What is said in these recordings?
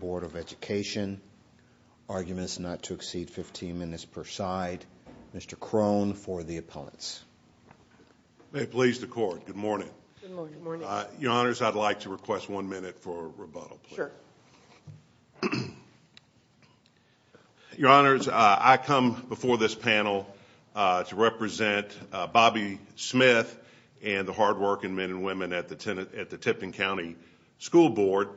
Board of Education, arguments not to exceed 15 minutes per side. Mr. Crone for the opponents. May it please the court. Good morning. Good morning. Your honors, I'd like to request one minute for rebuttal. Sure. Your honors, I come before this panel to represent Bobby Smith and the hard working men and women at the Tipton County School Board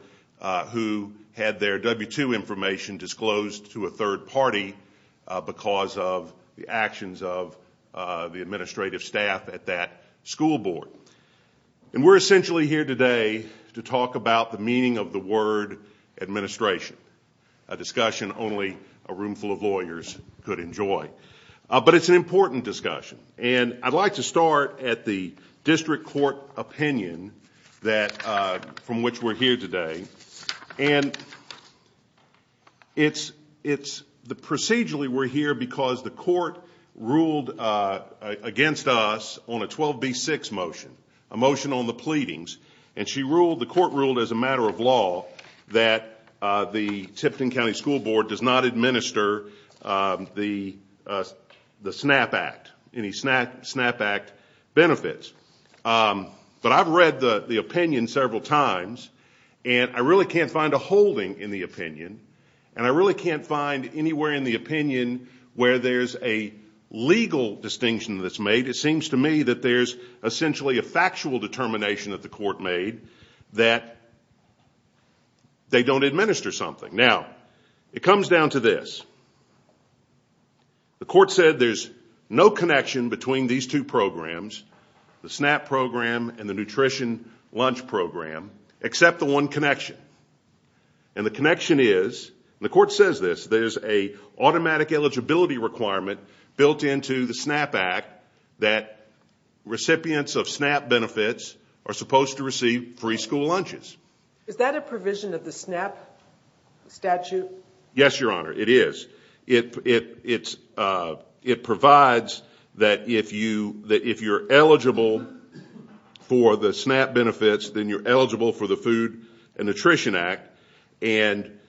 who had their W-2 information disclosed to a third party because of the actions of the administrative staff at that school board. And we're essentially here today to talk about the meaning of the word administration, a discussion only a room full of lawyers could enjoy. But it's an important discussion and I'd like to start at the district court opinion that, from which we're here to discuss on a 12B6 motion, a motion on the pleadings. And she ruled, the court ruled as a matter of law, that the Tipton County School Board does not administer the SNAP Act, any SNAP Act benefits. But I've read the opinion several times and I really can't find a holding in the opinion and I really can't find anywhere in the opinion where there's a legal distinction that's made. It seems to me that there's essentially a factual determination that the court made that they don't administer something. Now, it comes down to this. The court said there's no connection between these two programs, the SNAP program and the nutrition lunch program, except the one connection. And the connection is, and the court says this, there's an automatic eligibility requirement built into the SNAP Act that recipients of SNAP benefits are supposed to receive free school lunches. Is that a provision of the SNAP statute? Yes, Your Honor, it is. It provides that if you're eligible for the SNAP benefits, then you're eligible for the Food and Nutrition Act. And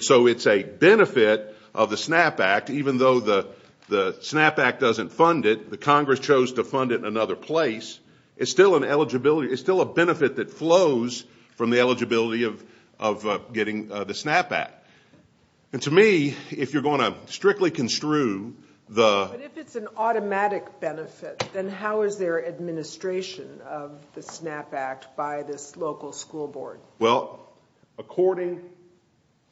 so it's a benefit of the SNAP Act, even though the SNAP Act doesn't fund it, the Congress chose to fund it in another place, it's still an eligibility, it's still a benefit that flows from the eligibility of getting the SNAP Act. And to me, if you're going to strictly construe the... Well, according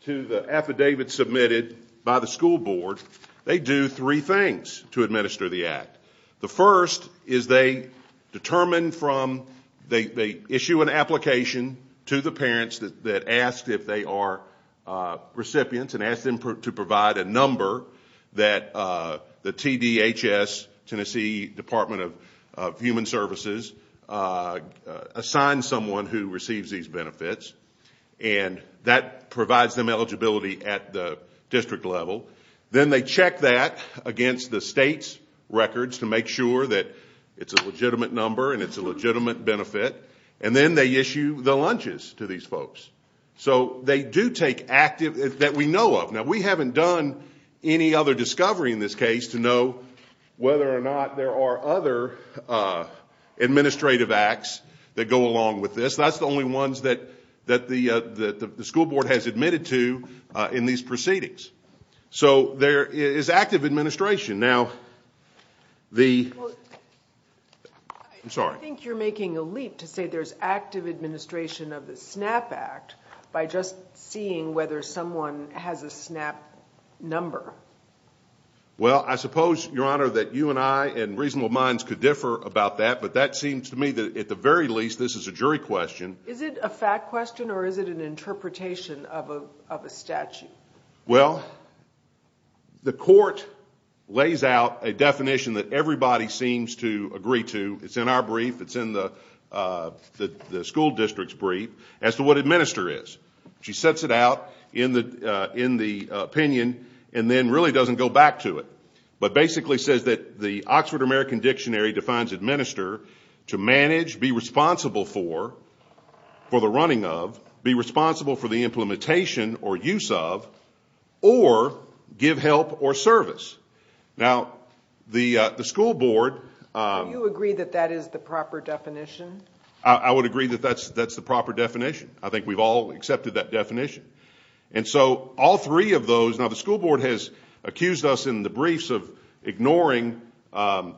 to the affidavit submitted by the school board, they do three things to administer the Act. The first is they issue an application to the parents that asked if they are recipients and asked them to provide a number that the TDHS, Tennessee Department of Human Services, assigns someone who receives these benefits, and that provides them eligibility at the district level. Then they check that against the state's records to make sure that it's a legitimate number and it's a legitimate benefit, and then they issue the lunches to these folks. So they do take active... that we know of. Now, we haven't done any other administrative acts that go along with this. That's the only ones that the school board has admitted to in these proceedings. So there is active administration. Now, the... Well, I think you're making a leap to say there's active administration of the SNAP Act by just seeing whether someone has a SNAP number. Well, I suppose, Your Honor, that you and I and reasonable minds could differ about that, but that seems to me that, at the very least, this is a jury question. Is it a fact question or is it an interpretation of a statute? Well, the court lays out a definition that everybody seems to agree to. It's in our brief, it's in the school district's brief, as to what administer is. She sets it out in the opinion and then really doesn't go back to it, but basically says that the Oxford American Dictionary defines administer to manage, be responsible for, for the running of, be responsible for the implementation or use of, or give help or service. Now, the school board... Do you agree that that is the proper definition? I would agree that that's the proper definition. I think we've all accepted that definition. And so, all three of those... Now, the school board has accused us in the briefs of ignoring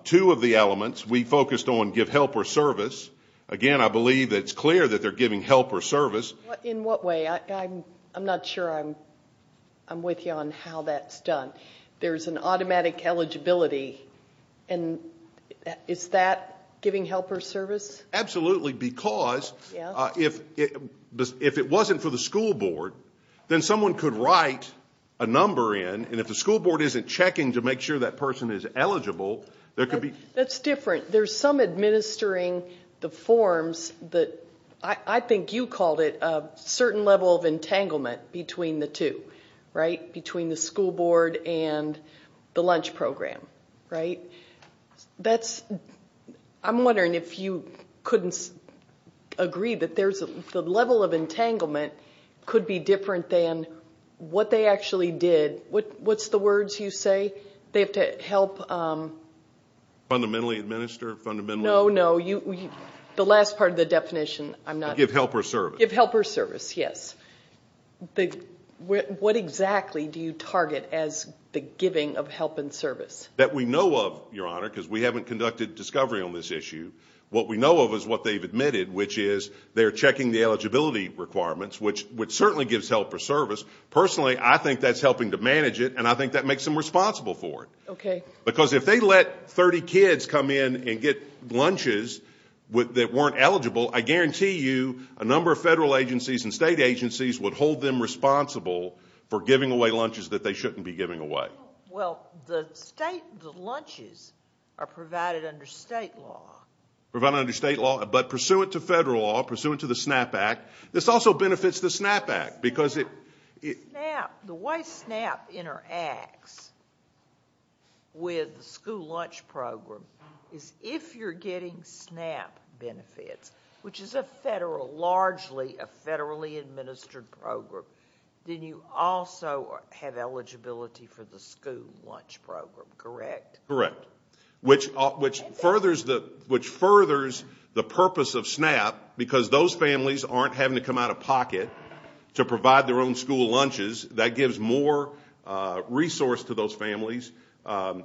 two of the elements. We focused on give help or service. Again, I believe it's clear that they're giving help or service. In what way? I'm not sure I'm with you on how that's done. There's an automatic eligibility. And is that giving help or service? Absolutely, because if it wasn't for the school board, then someone could write a number in, and if the school board isn't checking to make sure that person is eligible, there could be... That's different. There's some administering the forms that, I think you called it, a certain level of entanglement between the two, right? Between the school board and the lunch program, right? I'm wondering if you couldn't agree that the level of entanglement could be different than what they actually did. What's the words you say? They have to help... Fundamentally administer, fundamentally... No, no. The last part of the definition, I'm not... Give help or service. Give help or service, yes. What exactly do you target as the giving of help and service? That we know of, Your Honor, because we haven't conducted discovery on this issue. What we know of is what they've admitted, which is they're checking the eligibility requirements, which certainly gives help or service. Personally, I think that's helping to manage it, and I think that makes them responsible for it. Okay. Because if they let 30 kids come in and get lunches that weren't eligible, I guarantee you a number of federal agencies and state agencies would hold them responsible for giving away lunches that they shouldn't be giving away. Well, the state, the lunches are provided under state law. Provided under state law, but pursuant to federal law, pursuant to the SNAP Act, this also benefits the SNAP Act because it... The way SNAP interacts with the school lunch program is if you're getting SNAP benefits, which is a federal, largely a federally administered program, then you also have eligibility for the school lunch program, correct? Correct. Which furthers the purpose of SNAP because those families aren't having to come out of pocket to provide their own school lunches. That gives more resource to those families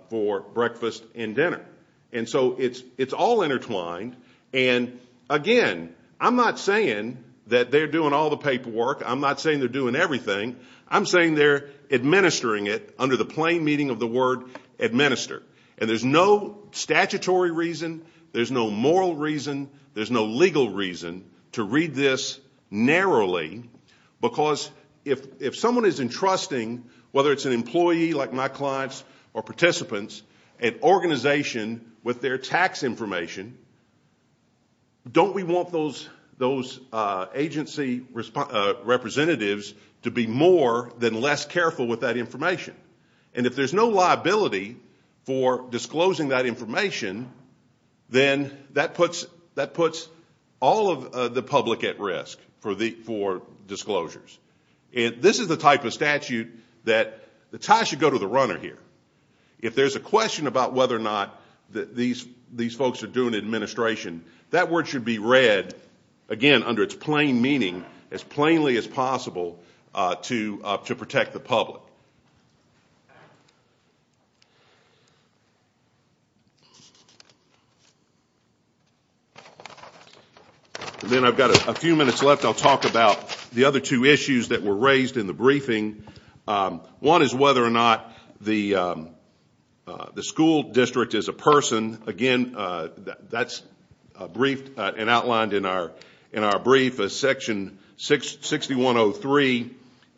for breakfast and dinner. And so it's all intertwined, and again, I'm not saying that they're doing all the paperwork. I'm not saying they're doing everything. I'm saying they're administering it under the plain meaning of the word administer. And there's no statutory reason, there's no moral reason, there's no legal reason to read this narrowly because if someone is entrusting, whether it's an employee like my clients or participants, an organization with their tax information, don't we want those agency representatives to be more than less careful with that information? And if there's no liability for disclosing that information, then that puts all of the public at risk for disclosures. This is the type of statute that the tie should go to the runner here. If there's a question about whether or not these folks are doing administration, that word should be read, again, under its plain meaning, as plainly as possible to protect the public. Then I've got a few minutes left. I'll talk about the other two issues that were raised in the briefing. One is whether or not the school district is a person. Again, that's briefed and outlined in our brief as Section 6103.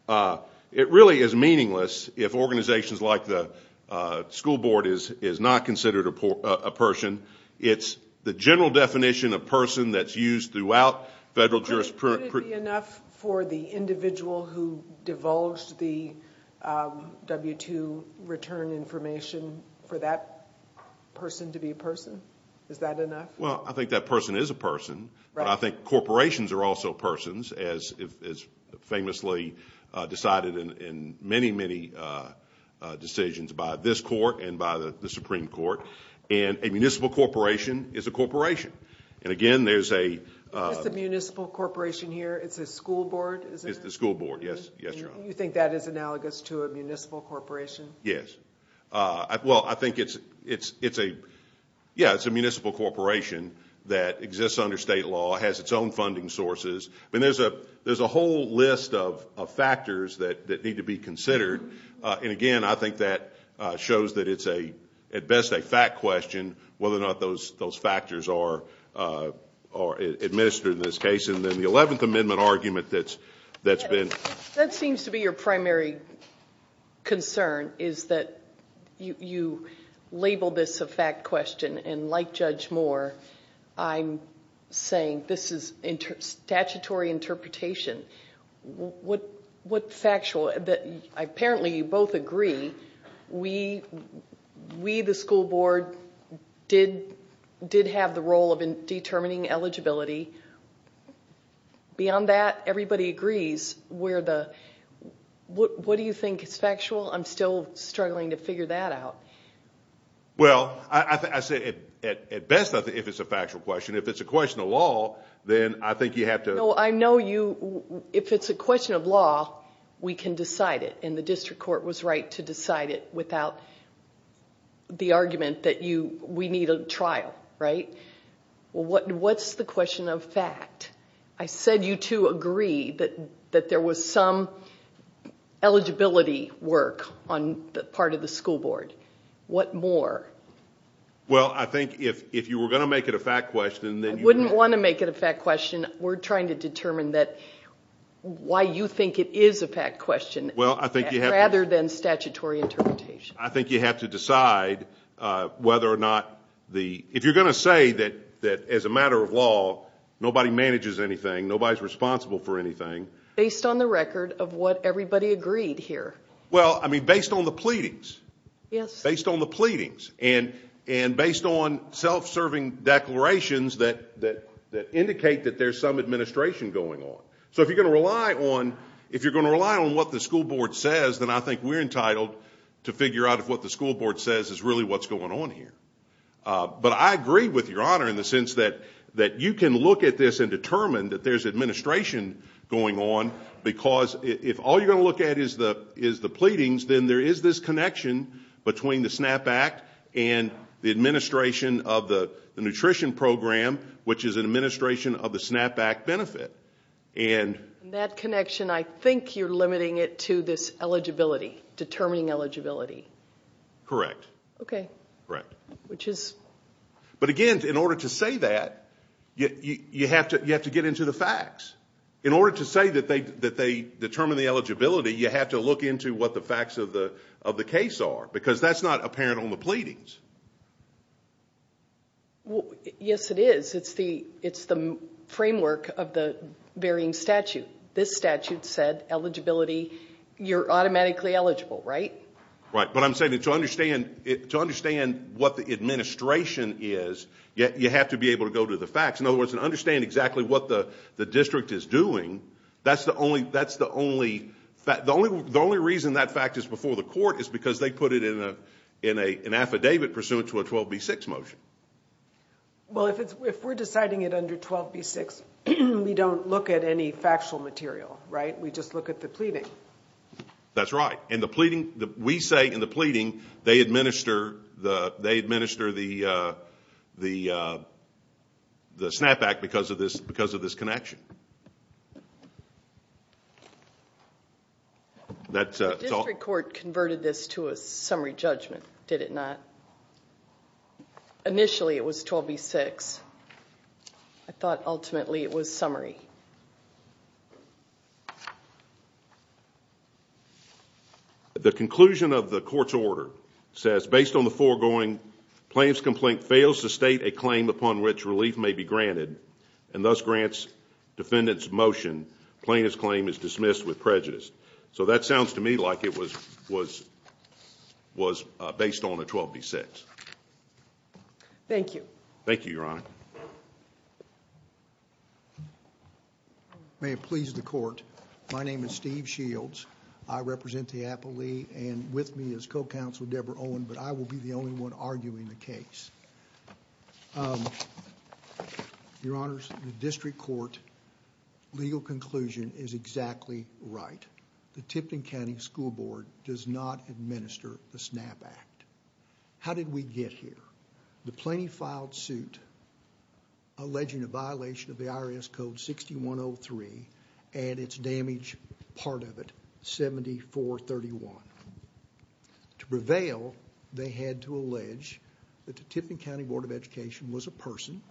It really is meaningless if organizations like the school board is not considered a person. It's the general definition of person that's used throughout federal jurisprudence. Would it be enough for the individual who divulged the W-2 return information for that person to be a person? Is that enough? Well, I think that person is a person, but I think corporations are also persons, as famously decided in many, many decisions by this court and by the Supreme Court. And a municipal corporation is a corporation. It's a municipal corporation here? It's a school board? It's a school board, yes, Your Honor. You think that is analogous to a municipal corporation? Yes. Well, I think it's a municipal corporation that exists under state law, has its own funding sources. There's a whole list of factors that need to be considered. And, again, I think that shows that it's at best a fact question, whether or not those factors are administered in this case. And then the Eleventh Amendment argument that's been ---- That seems to be your primary concern, is that you label this a fact question. And like Judge Moore, I'm saying this is statutory interpretation. What factual? Apparently you both agree we, the school board, did have the role of determining eligibility. Beyond that, everybody agrees. What do you think is factual? I'm still struggling to figure that out. Well, I say at best if it's a factual question. If it's a question of law, then I think you have to ---- No, I know you, if it's a question of law, we can decide it. And the district court was right to decide it without the argument that we need a trial, right? What's the question of fact? I said you two agree that there was some eligibility work on the part of the school board. What more? Well, I think if you were going to make it a fact question, then you would ---- If you were going to make it a fact question, we're trying to determine why you think it is a fact question rather than statutory interpretation. I think you have to decide whether or not the ---- If you're going to say that as a matter of law, nobody manages anything, nobody's responsible for anything ---- Based on the record of what everybody agreed here. Well, I mean, based on the pleadings. Yes. So if you're going to rely on what the school board says, then I think we're entitled to figure out if what the school board says is really what's going on here. But I agree with Your Honor in the sense that you can look at this and determine that there's administration going on, because if all you're going to look at is the pleadings, then there is this connection between the SNAP Act and the administration of the nutrition program, which is an administration of the SNAP Act benefit. And that connection, I think you're limiting it to this eligibility, determining eligibility. Correct. Okay. Correct. Which is ---- But again, in order to say that, you have to get into the facts. In order to say that they determine the eligibility, you have to look into what the facts of the case are, because that's not apparent on the pleadings. Yes, it is. It's the framework of the varying statute. This statute said eligibility. You're automatically eligible, right? Right. But I'm saying to understand what the administration is, you have to be able to go to the facts. In other words, to understand exactly what the district is doing, that's the only ---- The only reason that fact is before the court is because they put it in an affidavit pursuant to a 12B6 motion. Well, if we're deciding it under 12B6, we don't look at any factual material, right? We just look at the pleading. That's right. We say in the pleading they administer the SNAP Act because of this connection. The district court converted this to a summary judgment, did it not? Initially, it was 12B6. I thought ultimately it was summary. The conclusion of the court's order says, based on the foregoing plaintiff's complaint fails to state a claim upon which relief may be granted and thus grants defendant's motion, plaintiff's claim is dismissed with prejudice. So that sounds to me like it was based on a 12B6. Thank you. Thank you, Your Honor. May it please the court. My name is Steve Shields. I represent the Applee and with me is co-counsel Deborah Owen, but I will be the only one arguing the case. Your Honor, the district court legal conclusion is exactly right. The Tipton County School Board does not administer the SNAP Act. How did we get here? The plaintiff filed suit alleging a violation of the IRS Code 6103 and its damage part of it, 7431. To prevail, they had to allege that the Tipton County Board of Education was a person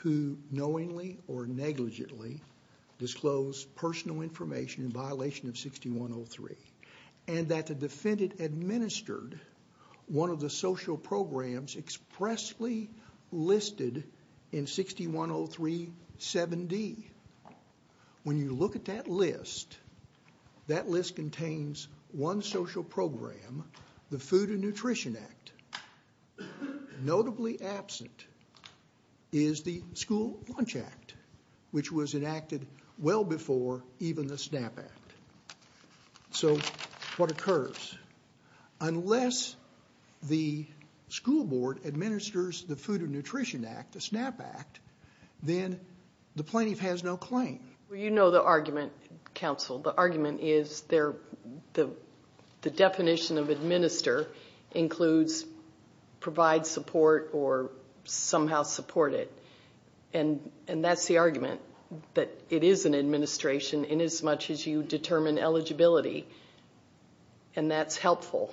who knowingly or negligently disclosed personal information in violation of 6103 and that the defendant administered one of the social programs expressly listed in 6103 7D. When you look at that list, that list contains one social program, the Food and Nutrition Act. Notably absent is the School Lunch Act, which was enacted well before even the SNAP Act. So what occurs? Unless the school board administers the Food and Nutrition Act, the SNAP Act, then the plaintiff has no claim. Well, you know the argument, counsel. The argument is the definition of administer includes provide support or somehow support it. And that's the argument, that it is an administration inasmuch as you determine eligibility. And that's helpful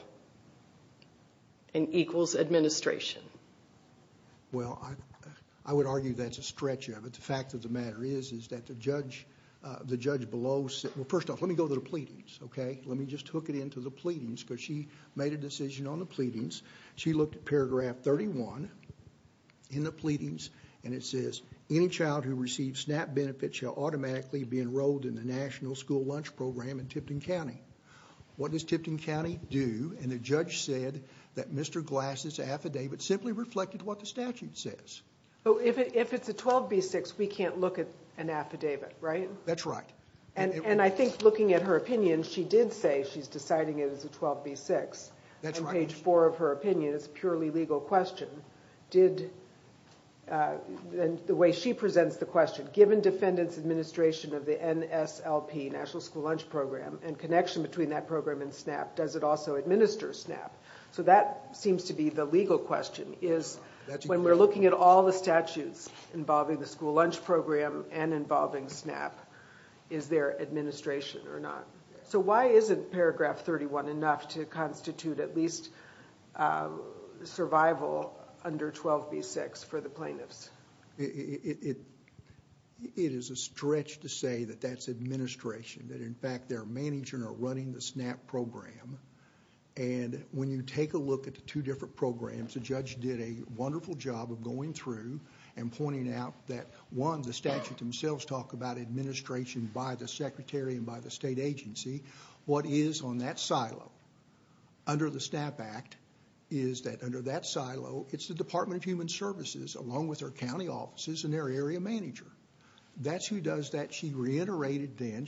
and equals administration. Well, I would argue that's a stretch of it. The fact of the matter is that the judge below said, well, first off, let me go to the pleadings, okay? Let me just hook it into the pleadings because she made a decision on the pleadings. She looked at paragraph 31 in the pleadings and it says, any child who receives SNAP benefits shall automatically be enrolled in the National School Lunch Program in Tipton County. What does Tipton County do? And the judge said that Mr. Glass' affidavit simply reflected what the statute says. If it's a 12B6, we can't look at an affidavit, right? That's right. And I think looking at her opinion, she did say she's deciding it as a 12B6. That's right. On page four of her opinion, it's a purely legal question. The way she presents the question, given defendant's administration of the NSLP, National School Lunch Program, and connection between that program and SNAP, does it also administer SNAP? So that seems to be the legal question, is when we're looking at all the statutes involving the school lunch program and involving SNAP, is there administration or not? So why isn't paragraph 31 enough to constitute at least survival under 12B6 for the plaintiffs? It is a stretch to say that that's administration, that in fact their manager are running the SNAP program. And when you take a look at the two different programs, the judge did a wonderful job of going through and pointing out that one, the statute themselves talk about administration by the secretary and by the state agency. What is on that silo under the SNAP Act is that under that silo, it's the Department of Human Services along with their county offices and their area manager. That's who does that. She reiterated then,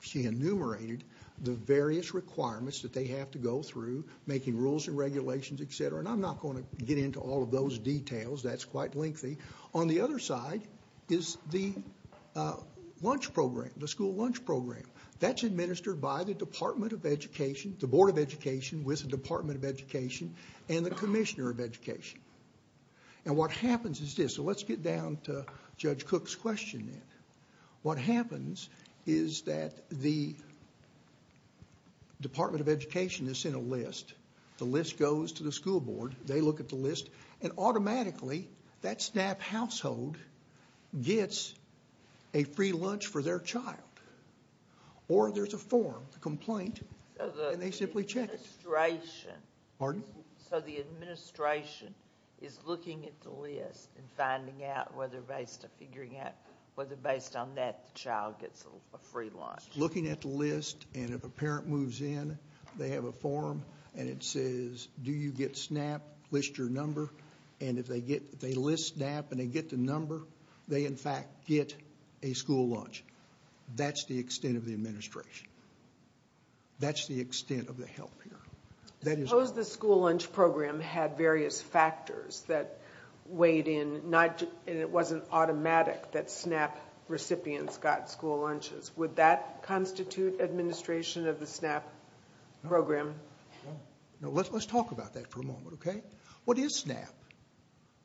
she enumerated the various requirements that they have to go through, making rules and regulations, et cetera. And I'm not going to get into all of those details. That's quite lengthy. On the other side is the lunch program, the school lunch program. That's administered by the Department of Education, the Board of Education with the Department of Education and the Commissioner of Education. And what happens is this. So let's get down to Judge Cook's question then. What happens is that the Department of Education is in a list. The list goes to the school board. They look at the list and automatically that SNAP household gets a free lunch for their child. Or there's a form, a complaint, and they simply check it. So the administration is looking at the list and finding out whether based on that the child gets a free lunch. Looking at the list and if a parent moves in, they have a form and it says, do you get SNAP, list your number. And if they list SNAP and they get the number, they in fact get a school lunch. That's the extent of the administration. That's the extent of the help here. Suppose the school lunch program had various factors that weighed in, and it wasn't automatic that SNAP recipients got school lunches. Would that constitute administration of the SNAP program? Let's talk about that for a moment. What is SNAP?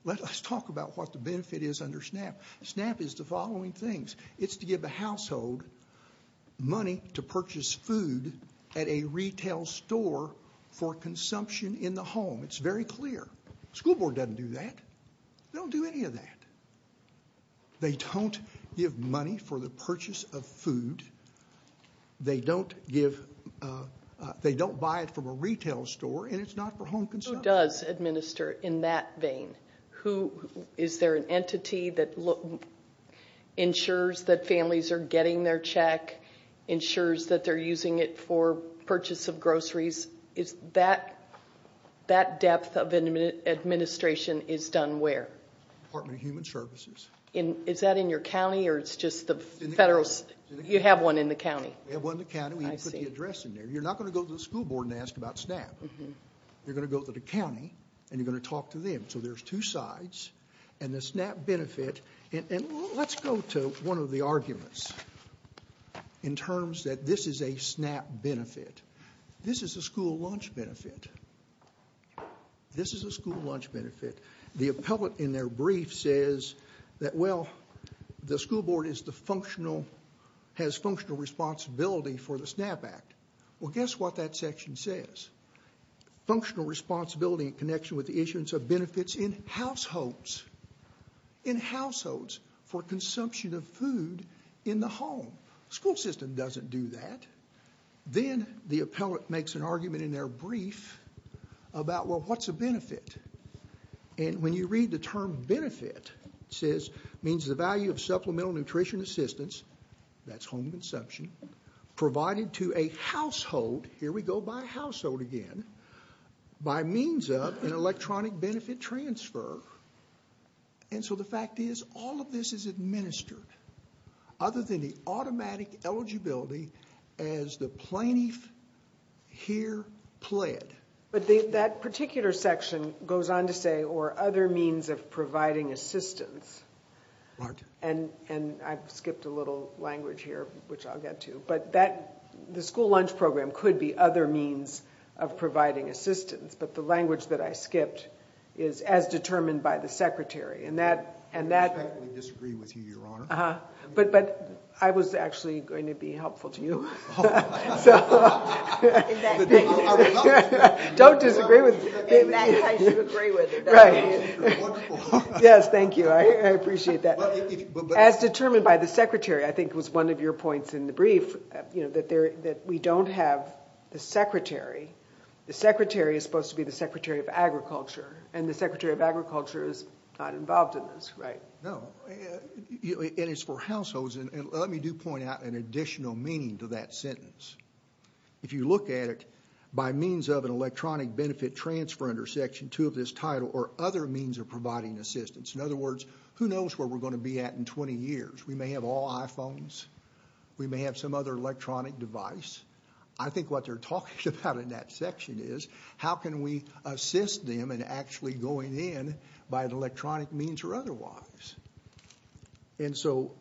Let's talk about what the benefit is under SNAP. SNAP is the following things. It's to give the household money to purchase food at a retail store for consumption in the home. It's very clear. The school board doesn't do that. They don't do any of that. They don't give money for the purchase of food. They don't buy it from a retail store, and it's not for home consumption. Who does administer in that vein? Is there an entity that ensures that families are getting their check, ensures that they're using it for purchase of groceries? That depth of administration is done where? Department of Human Services. Is that in your county, or it's just the federal? You have one in the county. We have one in the county. We even put the address in there. You're not going to go to the school board and ask about SNAP. You're going to go to the county, and you're going to talk to them. So there's two sides, and the SNAP benefit. Let's go to one of the arguments in terms that this is a SNAP benefit. This is a school lunch benefit. This is a school lunch benefit. The appellate in their brief says that, well, the school board has functional responsibility for the SNAP Act. Well, guess what that section says? Functional responsibility in connection with the issuance of benefits in households, in households for consumption of food in the home. The school system doesn't do that. And when you read the term benefit, it says it means the value of supplemental nutrition assistance, that's home consumption, provided to a household, here we go by household again, by means of an electronic benefit transfer. And so the fact is, all of this is administered, other than the automatic eligibility as the plaintiff here pled. But that particular section goes on to say, or other means of providing assistance. And I've skipped a little language here, which I'll get to. But the school lunch program could be other means of providing assistance. But the language that I skipped is as determined by the secretary. And that – I totally disagree with you, Your Honor. But I was actually going to be helpful to you. In that case. Don't disagree with me. In that case, you agree with it. Right. Wonderful. Yes, thank you. I appreciate that. As determined by the secretary, I think was one of your points in the brief, that we don't have the secretary. The secretary is supposed to be the Secretary of Agriculture, and the Secretary of Agriculture is not involved in this, right? No. And it's for households. And let me do point out an additional meaning to that sentence. If you look at it, by means of an electronic benefit transfer under Section 2 of this title, or other means of providing assistance. In other words, who knows where we're going to be at in 20 years. We may have all iPhones. We may have some other electronic device. I think what they're talking about in that section is, how can we assist them in actually going in by an electronic means or otherwise. And so,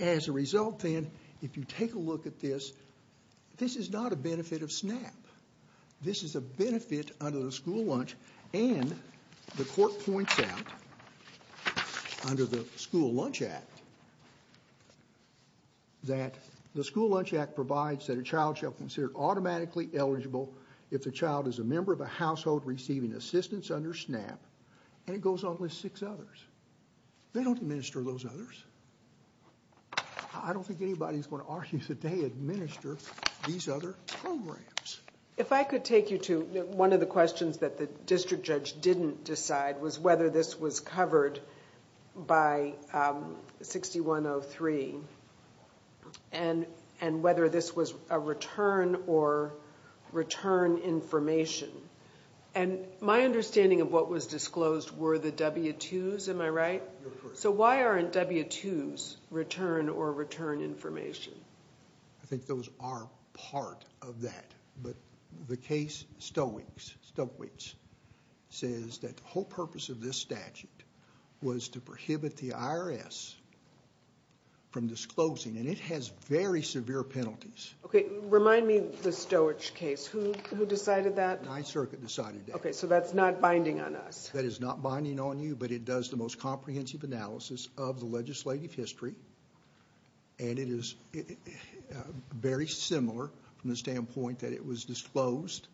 as a result then, if you take a look at this, this is not a benefit of SNAP. This is a benefit under the School Lunch Act. And the court points out, under the School Lunch Act, that the School Lunch Act provides that a child shall be considered automatically eligible if the child is a member of a household receiving assistance under SNAP. And it goes on with six others. They don't administer those others. I don't think anybody's going to argue that they administer these other programs. If I could take you to one of the questions that the district judge didn't decide, was whether this was covered by 6103. And whether this was a return or return information. And my understanding of what was disclosed were the W-2s. Am I right? You're correct. So why aren't W-2s return or return information? I think those are part of that. But the case Stoeckwitz says that the whole purpose of this statute was to prohibit the IRS from disclosing. And it has very severe penalties. Okay. Remind me the Stoeckwitz case. Who decided that? 9th Circuit decided that. Okay. So that's not binding on us. That is not binding on you. But it does the most comprehensive analysis of the legislative history. And it is very similar from the standpoint that it was disclosed.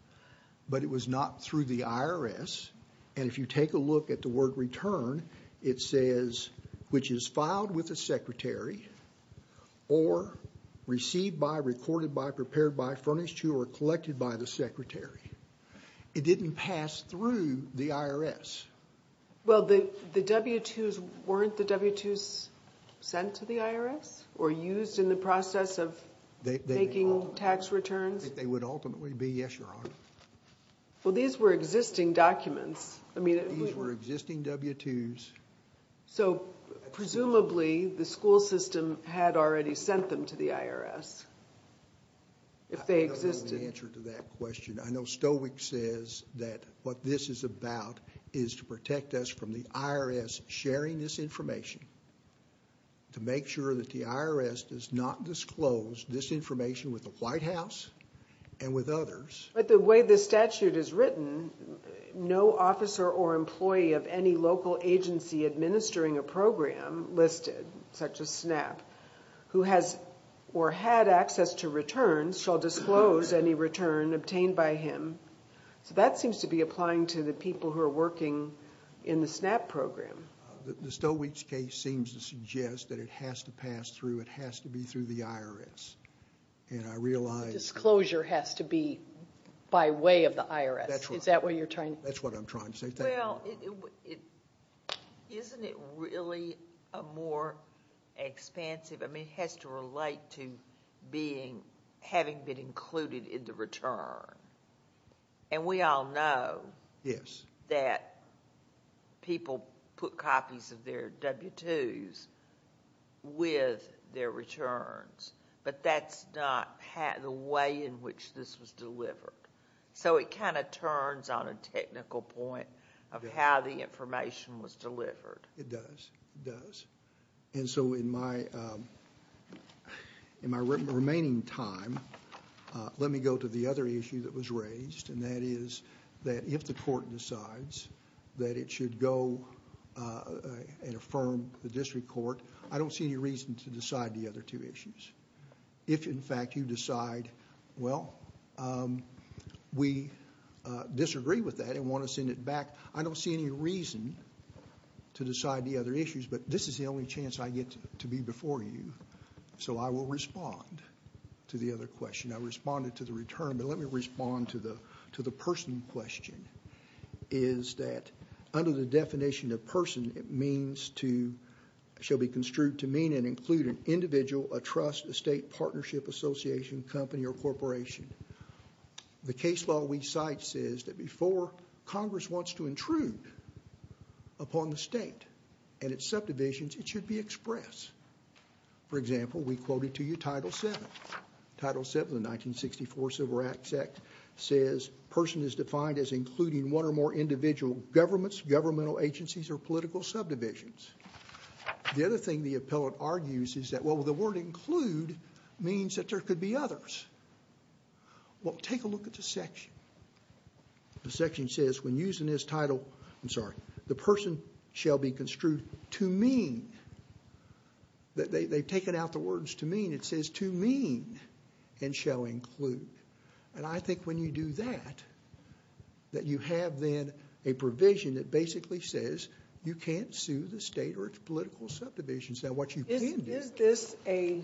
But it was not through the IRS. And if you take a look at the word return, it says, which is filed with a secretary or received by, recorded by, prepared by, furnished to, or collected by the secretary. It didn't pass through the IRS. Well, the W-2s, weren't the W-2s sent to the IRS or used in the process of making tax returns? They would ultimately be, yes, Your Honor. Well, these were existing documents. These were existing W-2s. So, presumably, the school system had already sent them to the IRS. If they existed. I don't know the answer to that question. I know Stoeckwitz says that what this is about is to protect us from the IRS sharing this information, to make sure that the IRS does not disclose this information with the White House and with others. But the way the statute is written, no officer or employee of any local agency administering a program listed, such as SNAP, who has or had access to returns shall disclose any return obtained by him. So that seems to be applying to the people who are working in the SNAP program. The Stoeckwitz case seems to suggest that it has to pass through, it has to be through the IRS. And I realize... The disclosure has to be by way of the IRS. Is that what you're trying... That's what I'm trying to say. Well, isn't it really a more expansive... I mean, it has to relate to having been included in the return. And we all know that people put copies of their W-2s with their returns. But that's not the way in which this was delivered. So it kind of turns on a technical point of how the information was delivered. It does, it does. And so in my remaining time, let me go to the other issue that was raised, and that is that if the court decides that it should go and affirm the district court, I don't see any reason to decide the other two issues. If, in fact, you decide, well, we disagree with that and want to send it back, I don't see any reason to decide the other issues, but this is the only chance I get to be before you. So I will respond to the other question. I responded to the return, but let me respond to the person question. Is that under the definition of person, it means to... an individual, a trust, a state partnership, association, company, or corporation. The case law we cite says that before Congress wants to intrude upon the state and its subdivisions, it should be expressed. For example, we quoted to you Title VII. Title VII of the 1964 Civil Rights Act says person is defined as including one or more individual governments, governmental agencies, or political subdivisions. The other thing the appellant argues is that, well, the word include means that there could be others. Well, take a look at the section. The section says when using this title, I'm sorry, the person shall be construed to mean, they've taken out the words to mean, it says to mean and shall include. And I think when you do that, that you have then a provision that basically says you can't sue the state or its political subdivisions. Now what you can do... Is this a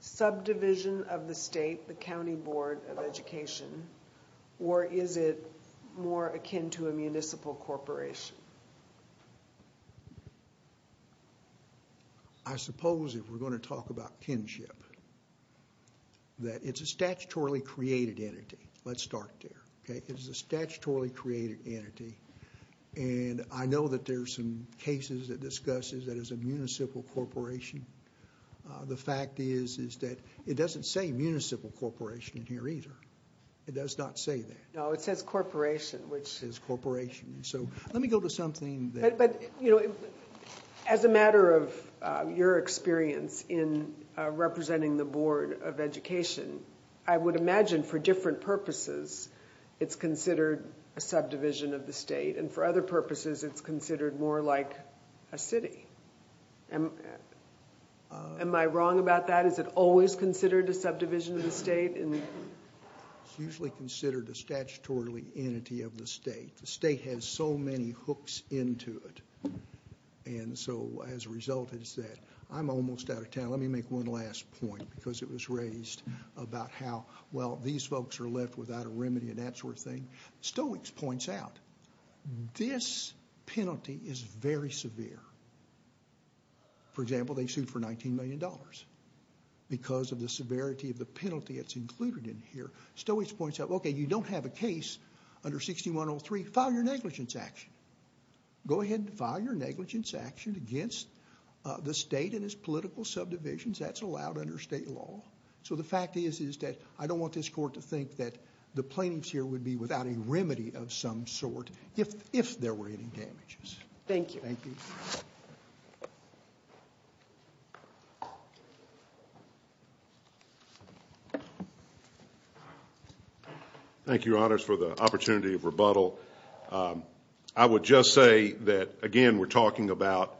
subdivision of the state, the County Board of Education, or is it more akin to a municipal corporation? I suppose if we're going to talk about kinship, that it's a statutorily created entity. Let's start there. It's a statutorily created entity. And I know that there are some cases that discuss that as a municipal corporation. The fact is that it doesn't say municipal corporation in here either. It does not say that. No, it says corporation, which... It says corporation. So let me go to something that... But, you know, as a matter of your experience in representing the Board of Education, I would imagine for different purposes it's considered a subdivision of the state. And for other purposes, it's considered more like a city. Am I wrong about that? Is it always considered a subdivision of the state? It's usually considered a statutorily entity of the state. The state has so many hooks into it. And so as a result, it's that. I'm almost out of time. Let me make one last point, because it was raised about how, well, these folks are left without a remedy and that sort of thing. Stoics points out this penalty is very severe. For example, they sued for $19 million because of the severity of the penalty that's included in here. Stoics points out, okay, you don't have a case under 6103. File your negligence action. Go ahead and file your negligence action against the state and its political subdivisions. That's allowed under state law. So the fact is, is that I don't want this court to think that the plaintiffs here would be without a remedy of some sort if there were any damages. Thank you. Thank you. Thank you, Your Honors, for the opportunity of rebuttal. I would just say that, again, we're talking about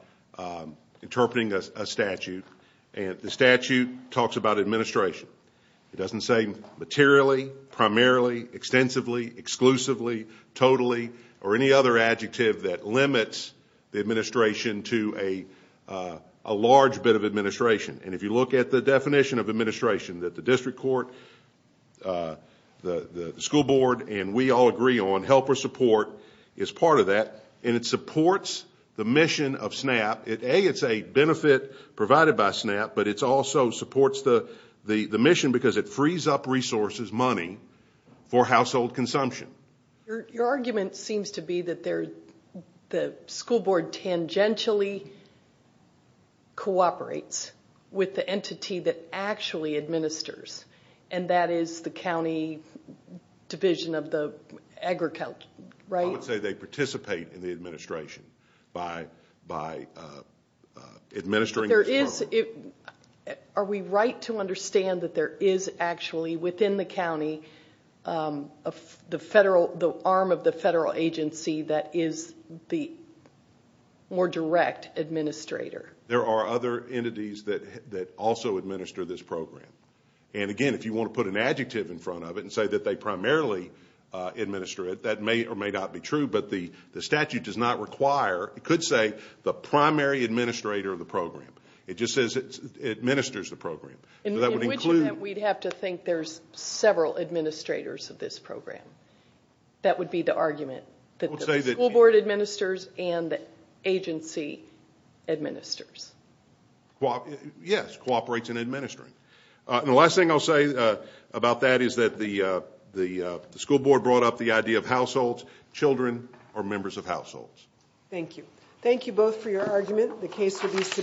interpreting a statute. And the statute talks about administration. It doesn't say materially, primarily, extensively, exclusively, totally, or any other adjective that limits the administration to a large bit of administration. And if you look at the definition of administration that the district court, the school board, and we all agree on, help or support is part of that. And it supports the mission of SNAP. A, it's a benefit provided by SNAP, but it also supports the mission because it frees up resources, money for household consumption. Your argument seems to be that the school board tangentially cooperates with the entity that actually administers, and that is the county division of the agriculture, right? I would say they participate in the administration by administering the program. Are we right to understand that there is actually, within the county, the arm of the federal agency that is the more direct administrator? There are other entities that also administer this program. And, again, if you want to put an adjective in front of it and say that they primarily administer it, that may or may not be true. But the statute does not require, it could say, the primary administrator of the program. It just says it administers the program. In which event, we'd have to think there's several administrators of this program. That would be the argument, that the school board administers and the agency administers. Yes, cooperates in administering. And the last thing I'll say about that is that the school board brought up the idea of households, children, or members of households. Thank you. Thank you both for your argument.